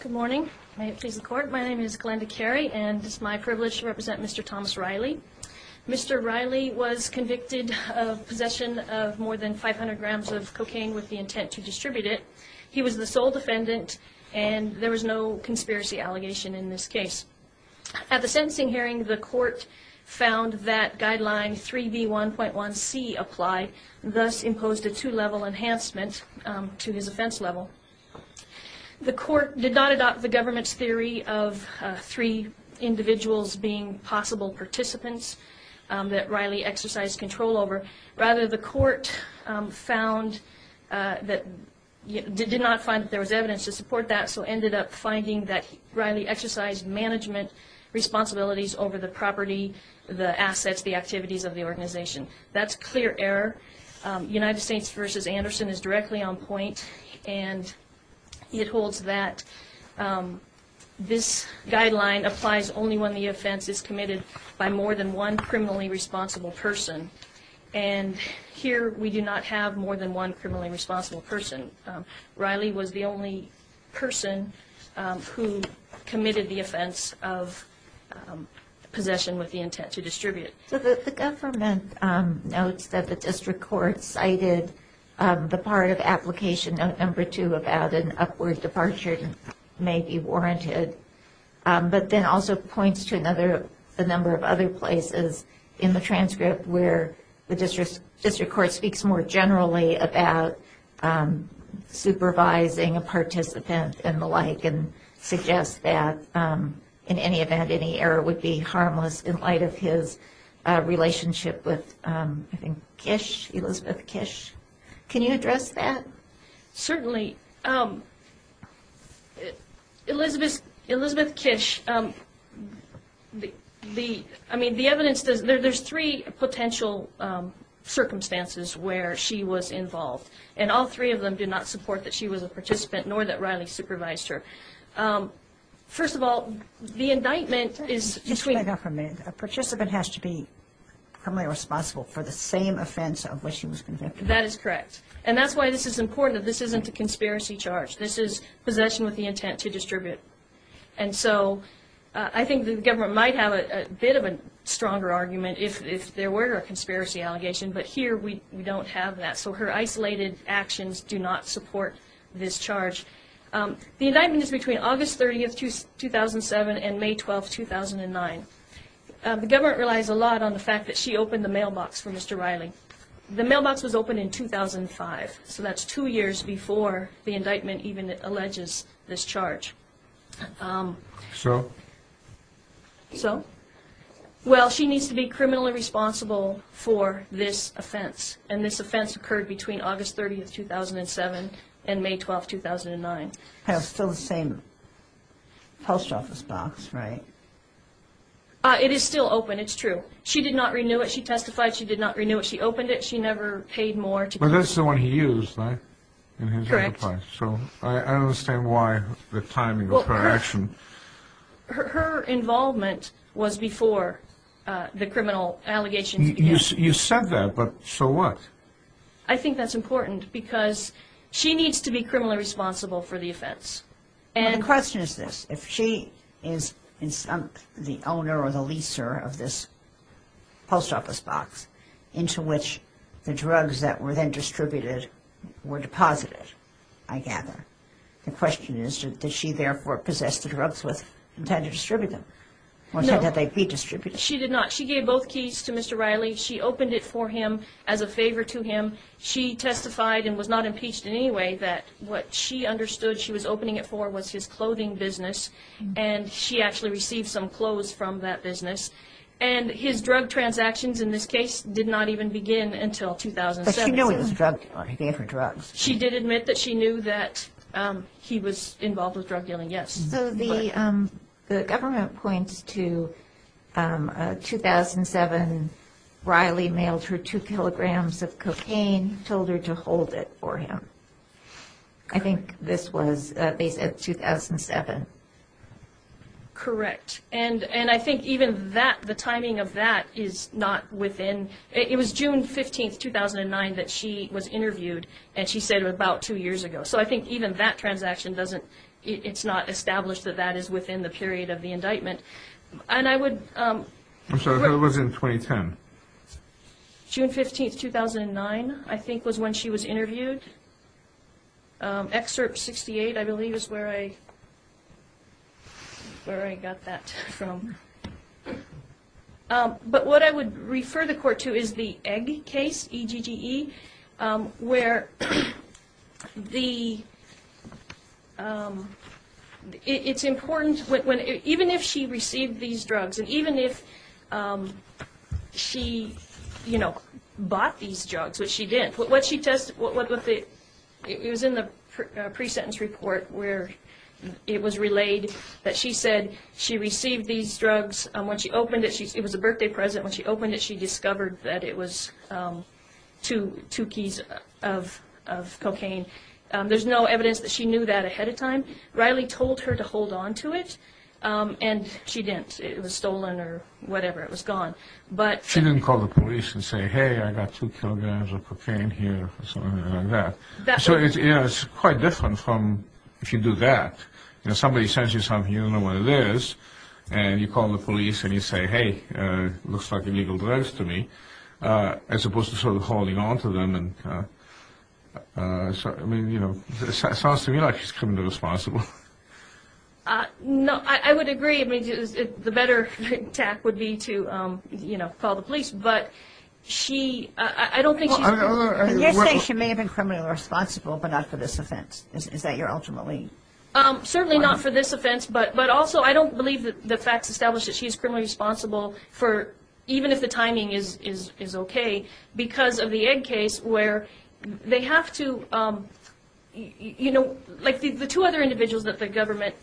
Good morning. May it please the court. My name is Glenda Carey and it's my privilege to represent Mr. Thomas Riley. Mr. Riley was convicted of possession of more than 500 grams of cocaine with the intent to distribute it. He was the sole defendant and there was no conspiracy allegation in this case. At the sentencing hearing, the court found that guideline 3B1.1C applied, thus imposed a two-level enhancement to his offense level. The court did not adopt the government's theory of three individuals being possible participants that Riley exercised control over. Rather, the court found that, did not find that there was evidence to support that, so ended up finding that Riley exercised management responsibilities over the property, the assets, the activities of the organization. That's clear error. United States v. Anderson is directly on point and it holds that this guideline applies only when the offense is committed by more than one criminally responsible person. And here we do not have more than one criminally responsible person. Riley was the only person who committed the offense of possession with the intent to distribute. So the government notes that the district court cited the part of application note number two about an upward departure may be warranted. But then also points to another, a number of other places in the transcript where the district court speaks more generally about supervising a participant and the like and suggests that in any event, any error would be harmless in light of his relationship with, I think, Kish, Elizabeth Kish. Can you address that? Certainly. Elizabeth Kish, I mean, the evidence, there's three potential circumstances where she was involved. And all three of them do not support that she was a participant, nor that Riley supervised her. First of all, the indictment is... A participant has to be criminally responsible for the same offense of which she was convicted. That is correct. And that's why this is important, that this isn't a conspiracy charge. This is possession with the intent to distribute. And so I think the government might have a bit of a stronger argument if there were a conspiracy allegation, but here we don't have that. So her isolated actions do not support this charge. The indictment is between August 30th, 2007 and May 12th, 2009. The government relies a lot on the fact that she opened the mailbox for Mr. Riley. The mailbox was opened in 2005, so that's two years before the indictment even alleges this charge. So? So? Well, she needs to be criminally responsible for this offense, and this offense occurred between August 30th, 2007 and May 12th, 2009. Still the same post office box, right? It is still open. It's true. She did not renew it. She testified she did not renew it. She opened it. She never paid more to... But that's the one he used, right? Correct. So I understand why the timing of her action... Her involvement was before the criminal allegations began. You said that, but so what? I think that's important because she needs to be criminally responsible for the offense. The question is this. If she is the owner or the leaser of this post office box into which the drugs that were then distributed were deposited, I gather, the question is, did she therefore possess the drugs with intent to distribute them? No. Or intent that they be distributed? She did not. She gave both keys to Mr. Riley. She opened it for him as a favor to him. She testified and was not impeached in any way that what she understood she was opening it for was his clothing business, and she actually received some clothes from that business. And his drug transactions in this case did not even begin until 2007. But she knew he was a drug dealer. He gave her drugs. She did admit that she knew that he was involved with drug dealing, yes. So the government points to 2007, Riley mailed her two kilograms of cocaine, told her to hold it for him. I think this was, they said, 2007. Correct. And I think even that, the timing of that is not within... It was June 15, 2009 that she was interviewed, and she said about two years ago. So I think even that transaction doesn't, it's not established that that is within the period of the indictment. And I would... I'm sorry, when was it in 2010? June 15, 2009, I think was when she was interviewed. Excerpt 68, I believe, is where I got that from. But what I would refer the court to is the Egg case, E-G-G-E, where the, it's important, even if she received these drugs, and even if she, you know, bought these drugs, which she didn't, what she tested, it was in the pre-sentence report where it was relayed that she said she received these drugs. When she opened it, it was a birthday present. When she opened it, she discovered that it was two keys of cocaine. There's no evidence that she knew that ahead of time. Riley told her to hold on to it, and she didn't. It was stolen or whatever, it was gone. She didn't call the police and say, hey, I got two kilograms of cocaine here, or something like that. So it's quite different from if you do that. If somebody sends you something and you don't know what it is, and you call the police and you say, hey, looks like illegal drugs to me, as opposed to sort of holding on to them. I mean, you know, it sounds to me like she's criminally responsible. No, I would agree. I mean, the better tact would be to, you know, call the police. But she, I don't think she's a criminal. You're saying she may have been criminally responsible but not for this offense. Is that your ultimate lead? Certainly not for this offense, but also I don't believe the facts establish that she's criminally responsible even if the timing is okay because of the egg case where they have to, you know, like the two other individuals that the government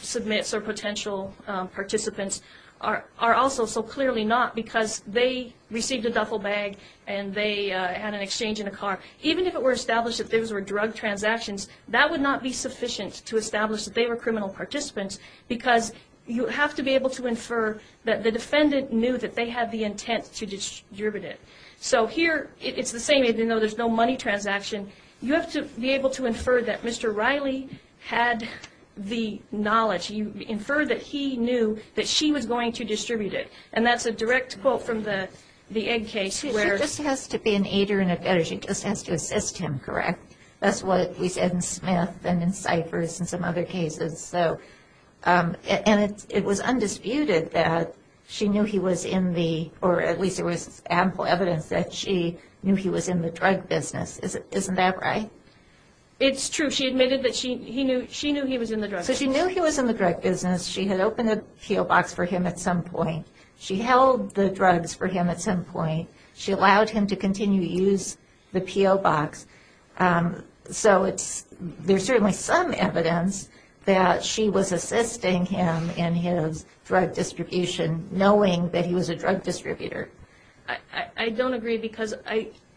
submits or potential participants are also so clearly not because they received a duffel bag and they had an exchange in a car. Even if it were established that those were drug transactions, that would not be sufficient to establish that they were criminal participants because you have to be able to infer that the defendant knew that they had the intent to distribute it. So here it's the same even though there's no money transaction. You have to be able to infer that Mr. Riley had the knowledge. You infer that he knew that she was going to distribute it. And that's a direct quote from the egg case. She just has to be an aider and a debtor. She just has to assist him, correct? That's what we said in Smith and in Cyphers and some other cases. And it was undisputed that she knew he was in the, or at least there was ample evidence, that she knew he was in the drug business. Isn't that right? It's true. She admitted that she knew he was in the drug business. So she knew he was in the drug business. She had opened the peel box for him at some point. She held the drugs for him at some point. She allowed him to continue to use the peel box. So there's certainly some evidence that she was assisting him in his drug distribution, knowing that he was a drug distributor. I don't agree because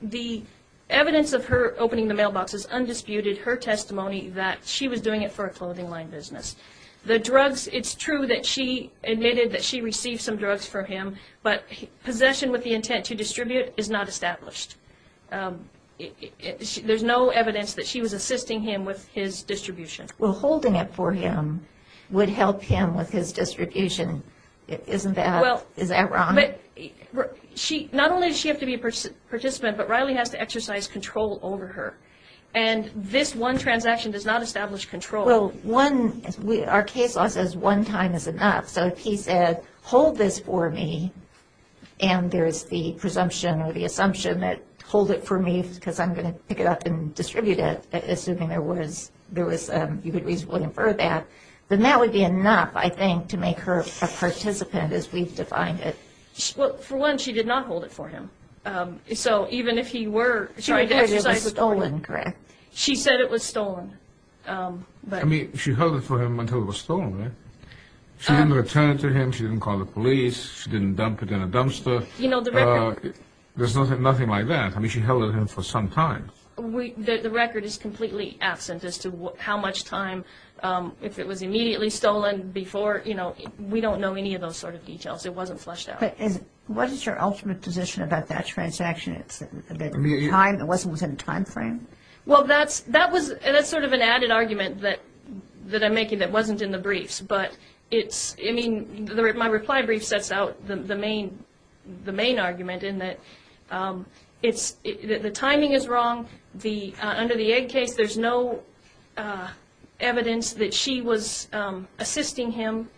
the evidence of her opening the mailbox is undisputed, her testimony that she was doing it for a clothing line business. The drugs, it's true that she admitted that she received some drugs for him, but possession with the intent to distribute is not established. There's no evidence that she was assisting him with his distribution. Well, holding it for him would help him with his distribution. Isn't that wrong? Not only does she have to be a participant, but Riley has to exercise control over her. And this one transaction does not establish control. Well, our case law says one time is enough. So if he said, hold this for me, and there is the presumption or the assumption that hold it for me because I'm going to pick it up and distribute it, assuming there was, you could reasonably infer that, then that would be enough, I think, to make her a participant as we've defined it. Well, for one, she did not hold it for him. So even if he were trying to exercise control. She said it was stolen, correct? I mean, she held it for him until it was stolen, right? She didn't return it to him. She didn't call the police. She didn't dump it in a dumpster. There's nothing like that. I mean, she held it for him for some time. The record is completely absent as to how much time, if it was immediately stolen before. We don't know any of those sort of details. It wasn't flushed out. But what is your ultimate position about that transaction? It wasn't within a time frame? Well, that's sort of an added argument that I'm making that wasn't in the briefs. But my reply brief sets out the main argument in that the timing is wrong. Under the egg case, there's no evidence that she was assisting him.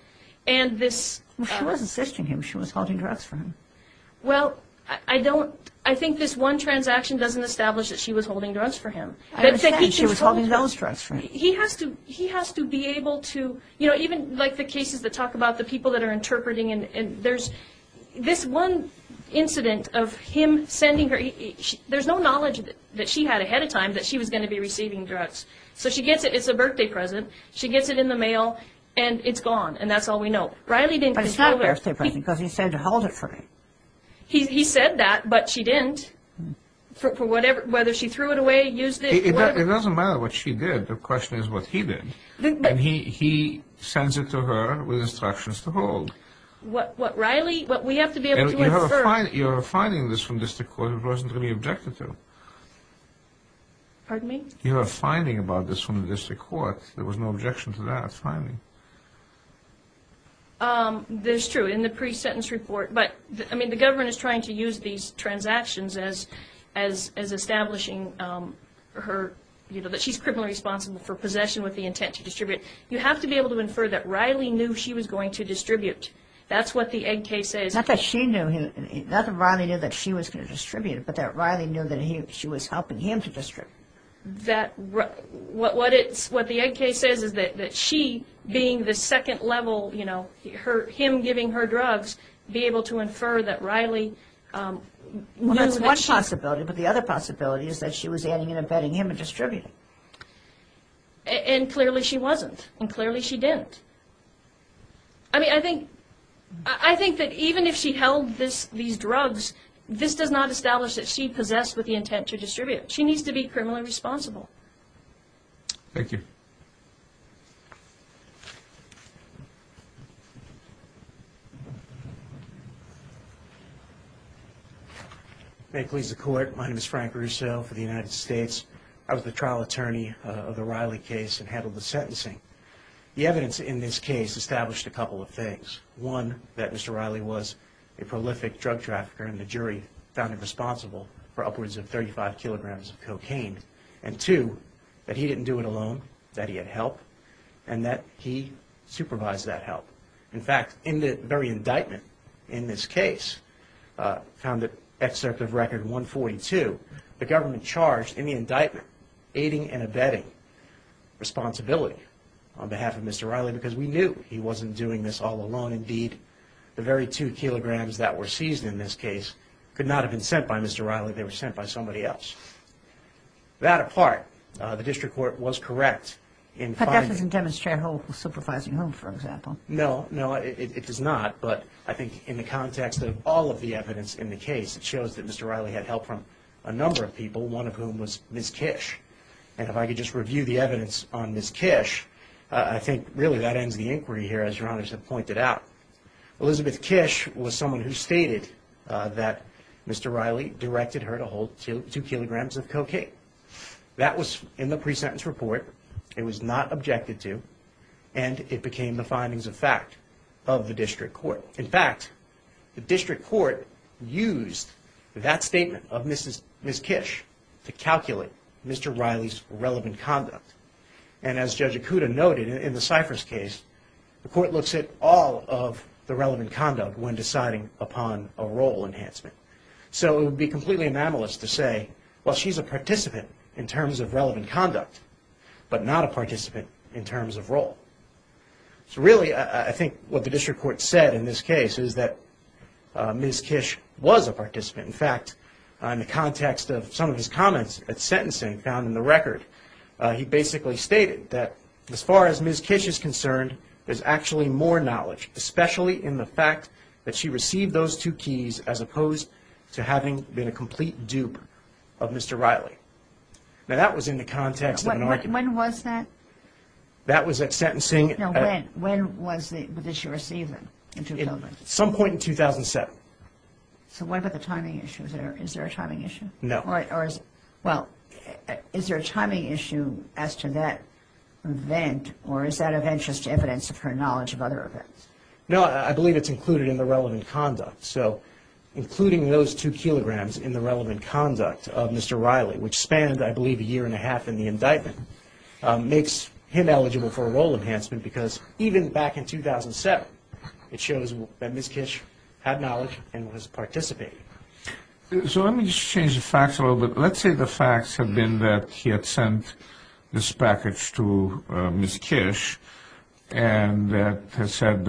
She was assisting him. She was holding drugs for him. Well, I think this one transaction doesn't establish that she was holding drugs for him. I understand. She was holding those drugs for him. He has to be able to, you know, even like the cases that talk about the people that are interpreting, and there's this one incident of him sending her. There's no knowledge that she had ahead of time that she was going to be receiving drugs. So she gets it. It's a birthday present. She gets it in the mail, and it's gone, and that's all we know. But it's not a birthday present because he said to hold it for her. He said that, but she didn't. Whether she threw it away, used it, whatever. It doesn't matter what she did. The question is what he did. He sends it to her with instructions to hold. What Riley, what we have to be able to infer. You're finding this from district court. It wasn't to be objected to. Pardon me? You are finding about this from the district court. There was no objection to that, finally. This is true in the pre-sentence report. But, I mean, the government is trying to use these transactions as establishing her, you know, that she's criminally responsible for possession with the intent to distribute. You have to be able to infer that Riley knew she was going to distribute. That's what the egg case says. Not that she knew. Not that Riley knew that she was going to distribute, but that Riley knew that she was helping him to distribute. What the egg case says is that she, being the second level, you know, him giving her drugs, be able to infer that Riley knew that she... Well, that's one possibility. But the other possibility is that she was adding and embedding him in distributing. And clearly she wasn't. And clearly she didn't. I mean, I think that even if she held these drugs, this does not establish that she possessed with the intent to distribute. She needs to be criminally responsible. Thank you. May it please the Court. My name is Frank Russo for the United States. I was the trial attorney of the Riley case and handled the sentencing. The evidence in this case established a couple of things. One, that Mr. Riley was a prolific drug trafficker, and the jury found him responsible for upwards of 35 kilograms of cocaine. And two, that he didn't do it alone, that he had help, and that he supervised that help. In fact, in the very indictment in this case, found the excerpt of Record 142, the government charged in the indictment, aiding and abetting responsibility on behalf of Mr. Riley, because we knew he wasn't doing this all alone. The very two kilograms that were seized in this case could not have been sent by Mr. Riley. They were sent by somebody else. That apart, the district court was correct. But that doesn't demonstrate he was supervising whom, for example. No, no, it does not. But I think in the context of all of the evidence in the case, it shows that Mr. Riley had help from a number of people, one of whom was Ms. Kish. And if I could just review the evidence on Ms. Kish, I think, really, that ends the inquiry here, as Your Honor has pointed out. Elizabeth Kish was someone who stated that Mr. Riley directed her to hold two kilograms of cocaine. That was in the pre-sentence report. It was not objected to. And it became the findings of fact of the district court. In fact, the district court used that statement of Ms. Kish to calculate Mr. Riley's relevant conduct. And as Judge Ikuda noted, in the Cypress case, the court looks at all of the relevant conduct when deciding upon a role enhancement. So it would be completely anomalous to say, well, she's a participant in terms of relevant conduct, but not a participant in terms of role. So really, I think what the district court said in this case is that Ms. Kish was a participant. In fact, in the context of some of his comments at sentencing, found in the record, he basically stated that, as far as Ms. Kish is concerned, there's actually more knowledge, especially in the fact that she received those two keys as opposed to having been a complete dupe of Mr. Riley. Now, that was in the context of an argument. When was that? That was at sentencing. When did she receive them? At some point in 2007. So what about the timing issue? Is there a timing issue? No. Well, is there a timing issue as to that event, or is that of interest to evidence of her knowledge of other events? No, I believe it's included in the relevant conduct. So including those two kilograms in the relevant conduct of Mr. Riley, which spanned, I believe, a year and a half in the indictment, makes him eligible for a role enhancement because even back in 2007, it shows that Ms. Kish had knowledge and was participating. So let me just change the facts a little bit. Let's say the facts have been that he had sent this package to Ms. Kish and had said,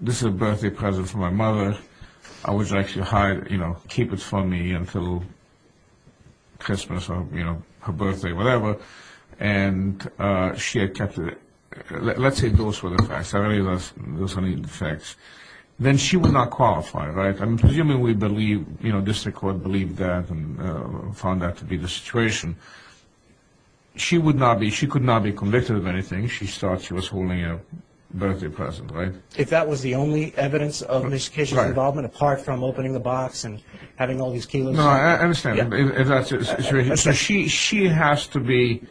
this is a birthday present for my mother. I would like you to keep it for me until Christmas or her birthday, whatever, and she had kept it. Let's say those were the facts. I believe those are the facts. Then she would not qualify, right? I'm presuming we believe, you know, district court believed that and found that to be the situation. She could not be convicted of anything. She thought she was holding a birthday present, right? If that was the only evidence of Ms. Kish's involvement, apart from opening the box and having all these kilos. No, I understand. So she has to be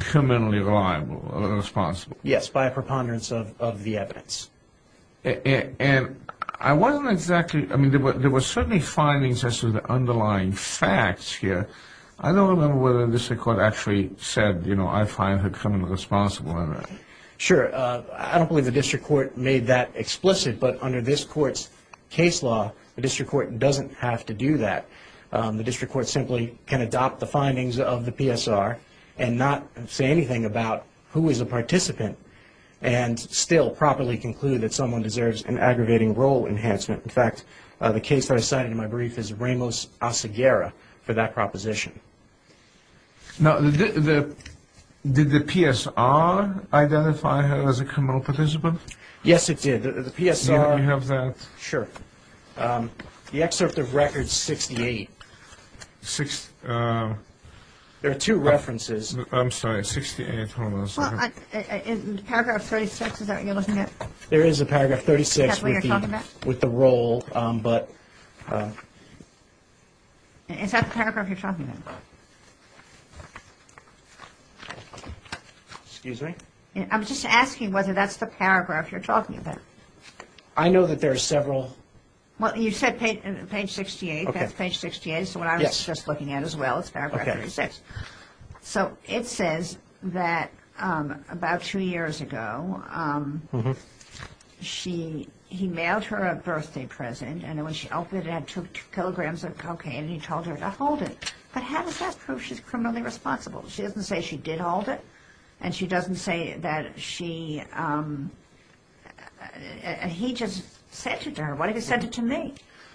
criminally liable or responsible. Yes, by a preponderance of the evidence. And I wasn't exactly, I mean, there were certainly findings as to the underlying facts here. I don't remember whether the district court actually said, you know, I find her criminally responsible or not. Sure. I don't believe the district court made that explicit, but under this court's case law, the district court doesn't have to do that. The district court simply can adopt the findings of the PSR and not say anything about who is a participant and still properly conclude that someone deserves an aggravating role enhancement. In fact, the case that I cited in my brief is Ramos-Aseguera for that proposition. Now, did the PSR identify her as a criminal participant? Yes, it did. The PSR. Do you have that? Sure. The excerpt of record 68. There are two references. I'm sorry, 68, hold on a second. In paragraph 36, is that what you're looking at? There is a paragraph 36 with the role, but. Is that the paragraph you're talking about? Excuse me? I'm just asking whether that's the paragraph you're talking about. I know that there are several. Well, you said page 68, so what I was just looking at as well is paragraph 36. So it says that about two years ago, he mailed her a birthday present, and when she opened it, it had two kilograms of cocaine, and he told her to hold it. But how does that prove she's criminally responsible? She doesn't say she did hold it, and she doesn't say that she...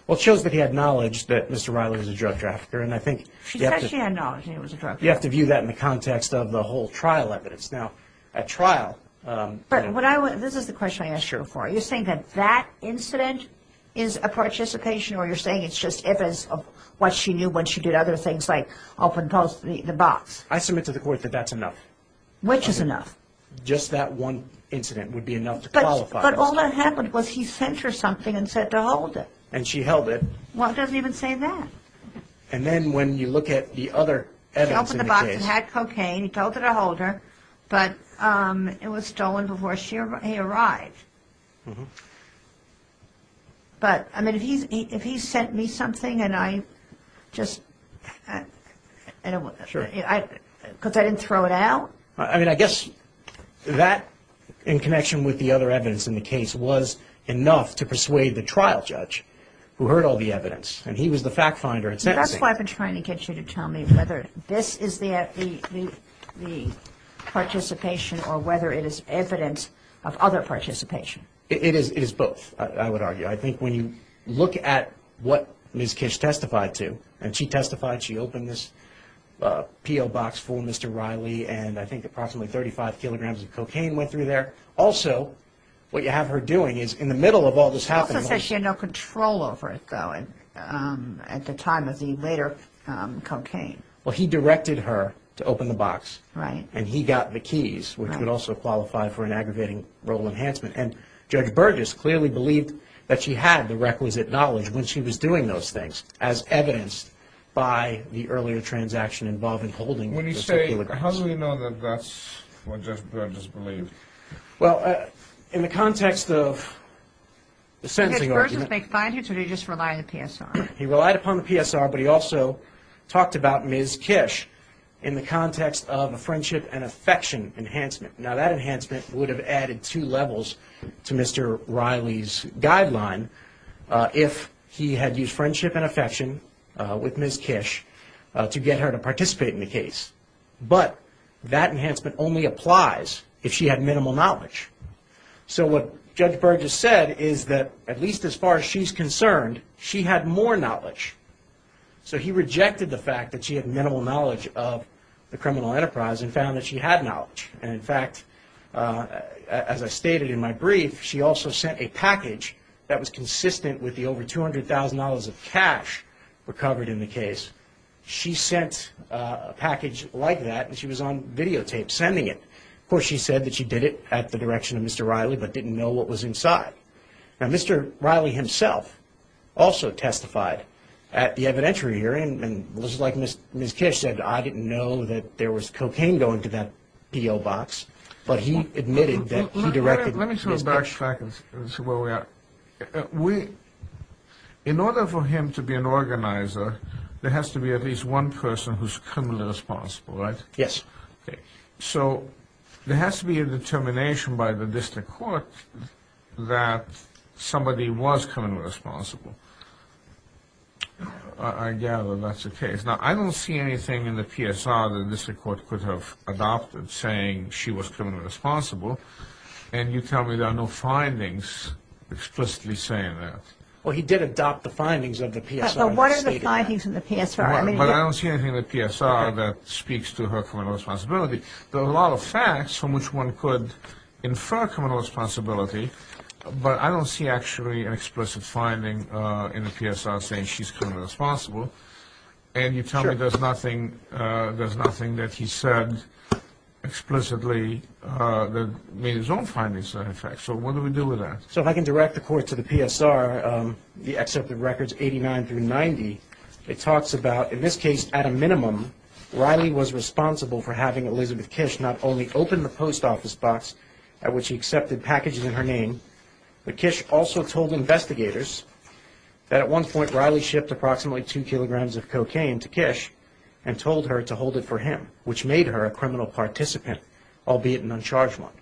Well, it shows that he had knowledge that Mr. Riley was a drug trafficker, and I think... She said she had knowledge that he was a drug trafficker. You have to view that in the context of the whole trial evidence. Now, at trial... But this is the question I asked you before. Are you saying that that incident is a participation, or you're saying it's just evidence of what she knew when she did other things like open the box? I submit to the court that that's enough. Which is enough? Just that one incident would be enough to qualify. But all that happened was he sent her something and said to hold it. And she held it. Well, it doesn't even say that. And then when you look at the other evidence in the case... She opened the box. It had cocaine. He told her to hold her, but it was stolen before he arrived. But, I mean, if he sent me something and I just... Sure. Because I didn't throw it out. I mean, I guess that, in connection with the other evidence in the case, was enough to persuade the trial judge, who heard all the evidence. And he was the fact finder in sentencing. That's why I've been trying to get you to tell me whether this is the participation or whether it is evidence of other participation. It is both, I would argue. I think when you look at what Ms. Kish testified to... I think approximately 35 kilograms of cocaine went through there. Also, what you have her doing is, in the middle of all this happening... He also said she had no control over it, though, at the time of the later cocaine. Well, he directed her to open the box. Right. And he got the keys, which would also qualify for an aggravating role enhancement. And Judge Burgess clearly believed that she had the requisite knowledge when she was doing those things, as evidenced by the earlier transaction involving holding... And that's what Judge Burgess believed. Well, in the context of the sentencing argument... Judge Burgess made findings, or did he just rely on the PSR? He relied upon the PSR, but he also talked about Ms. Kish in the context of a friendship and affection enhancement. Now, that enhancement would have added two levels to Mr. Riley's guideline if he had used friendship and affection with Ms. Kish to get her to participate in the case. But that enhancement only applies if she had minimal knowledge. So what Judge Burgess said is that, at least as far as she's concerned, she had more knowledge. So he rejected the fact that she had minimal knowledge of the criminal enterprise and found that she had knowledge. And, in fact, as I stated in my brief, she also sent a package that was consistent with the over $200,000 of cash recovered in the case. She sent a package like that, and she was on videotape sending it. Of course, she said that she did it at the direction of Mr. Riley, but didn't know what was inside. Now, Mr. Riley himself also testified at the evidentiary hearing and was like Ms. Kish said, I didn't know that there was cocaine going to that P.O. box, but he admitted that he directed Ms. Kish. Well, let me turn back and see where we are. In order for him to be an organizer, there has to be at least one person who's criminally responsible, right? Yes. Okay. So there has to be a determination by the district court that somebody was criminally responsible. I gather that's the case. Now, I don't see anything in the PSR that the district court could have adopted saying she was criminally responsible. And you tell me there are no findings explicitly saying that. Well, he did adopt the findings of the PSR. But what are the findings in the PSR? But I don't see anything in the PSR that speaks to her criminal responsibility. There are a lot of facts from which one could infer criminal responsibility, but I don't see actually an explicit finding in the PSR saying she's criminally responsible. And you tell me there's nothing that he said explicitly that made his own findings sound like facts. So what do we do with that? So if I can direct the court to the PSR, the accepted records 89 through 90, it talks about, in this case, at a minimum, Riley was responsible for having Elizabeth Kish not only open the post office box at which she accepted packages in her name, but Kish also told investigators that at one point Riley shipped approximately two kilograms of cocaine to Kish and told her to hold it for him, which made her a criminal participant, albeit an uncharged one.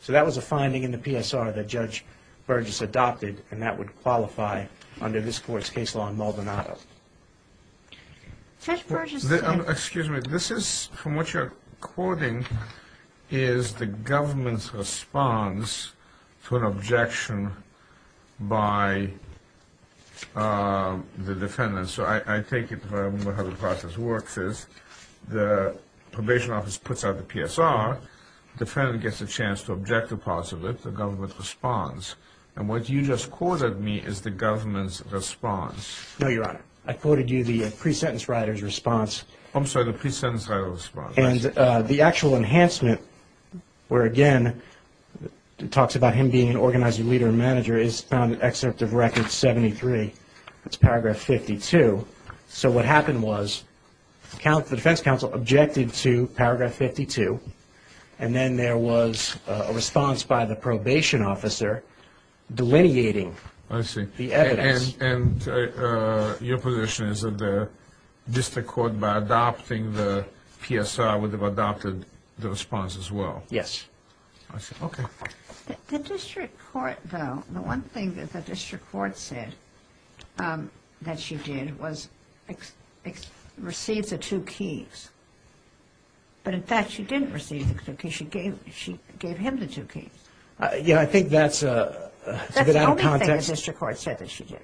So that was a finding in the PSR that Judge Burgess adopted, and that would qualify under this court's case law in Maldonado. Judge Burgess said... Excuse me. This is, from what you're quoting, is the government's response to an objection by the defendant. So I take it, if I remember how the process works, is the probation office puts out the PSR. Defendant gets a chance to object to possibly the government's response. And what you just quoted me is the government's response. No, Your Honor. I quoted you the pre-sentence writer's response. I'm sorry, the pre-sentence writer's response. And the actual enhancement where, again, it talks about him being an organized leader and manager is found in Excerpt of Record 73. It's paragraph 52. So what happened was the defense counsel objected to paragraph 52, and then there was a response by the probation officer delineating the evidence. And your position is that the district court, by adopting the PSR, would have adopted the response as well? Yes. I see. Okay. The district court, though, the one thing that the district court said that she did was receive the two keys. But, in fact, she didn't receive the two keys. She gave him the two keys. Yeah, I think that's a bit out of context. That's what the district court said that she did.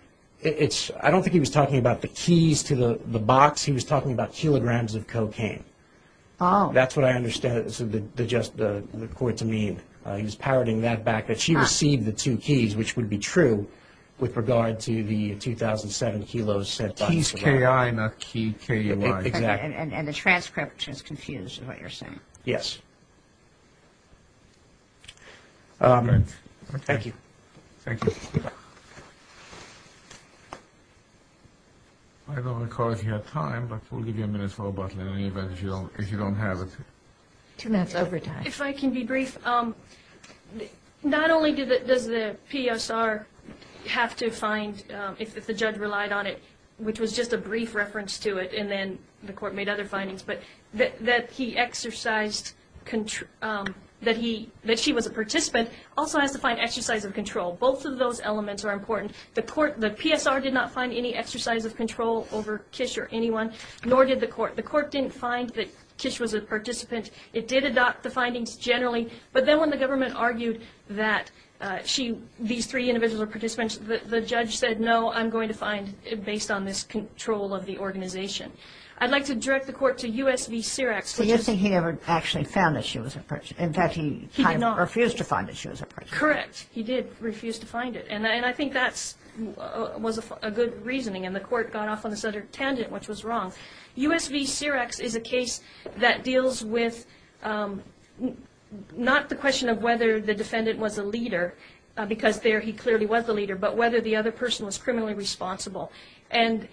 I don't think he was talking about the keys to the box. He was talking about kilograms of cocaine. That's what I understand the court to mean. He was parroting that back, that she received the two keys, which would be true with regard to the 2,007 kilos said box. Keys K-I, not key K-U-I. Exactly. And the transcript is confused with what you're saying. Yes. Thank you. Thank you. I don't recall if you had time, but we'll give you a minute for rebuttal in any event if you don't have it. That's over time. If I can be brief, not only does the PSR have to find, if the judge relied on it, which was just a brief reference to it and then the court made other findings, but that he exercised control, that she was a participant, also has to find exercise of control. Both of those elements are important. The PSR did not find any exercise of control over Kish or anyone, nor did the court. The court didn't find that Kish was a participant. It did adopt the findings generally. But then when the government argued that these three individuals were participants, the judge said, no, I'm going to find based on this control of the organization. I'd like to direct the court to U.S. v. Syrax. So you're saying he never actually found that she was a person. In fact, he kind of refused to find that she was a person. Correct. He did refuse to find it. And I think that was a good reasoning. And the court got off on this other tangent, which was wrong. U.S. v. Syrax is a case that deals with not the question of whether the defendant was a leader, because there he clearly was a leader, but whether the other person was criminally responsible. And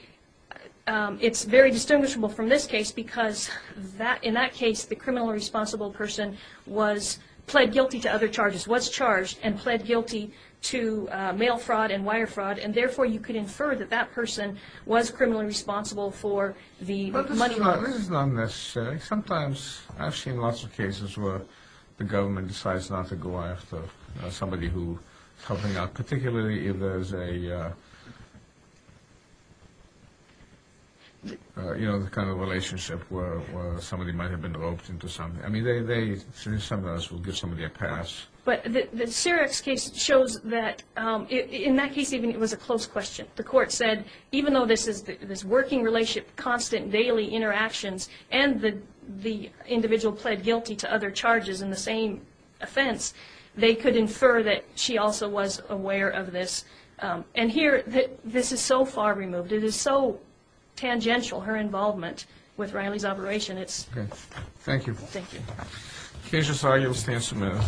it's very distinguishable from this case because in that case, the criminally responsible person was pled guilty to other charges, was charged and pled guilty to mail fraud and wire fraud, and therefore you could infer that that person was criminally responsible for the money loss. But this is not necessary. Sometimes I've seen lots of cases where the government decides not to go after somebody who is helping out, particularly if there's a, you know, the kind of relationship where somebody might have been roped into something. I mean, they sometimes will give somebody a pass. But the Syrax case shows that in that case even it was a close question. The court said even though this is this working relationship, constant daily interactions, and the individual pled guilty to other charges in the same offense, they could infer that she also was aware of this. And here, this is so far removed. It is so tangential, her involvement with Riley's operation. Thank you. Thank you. Kasia Sawyer, U.S. Tansylvania.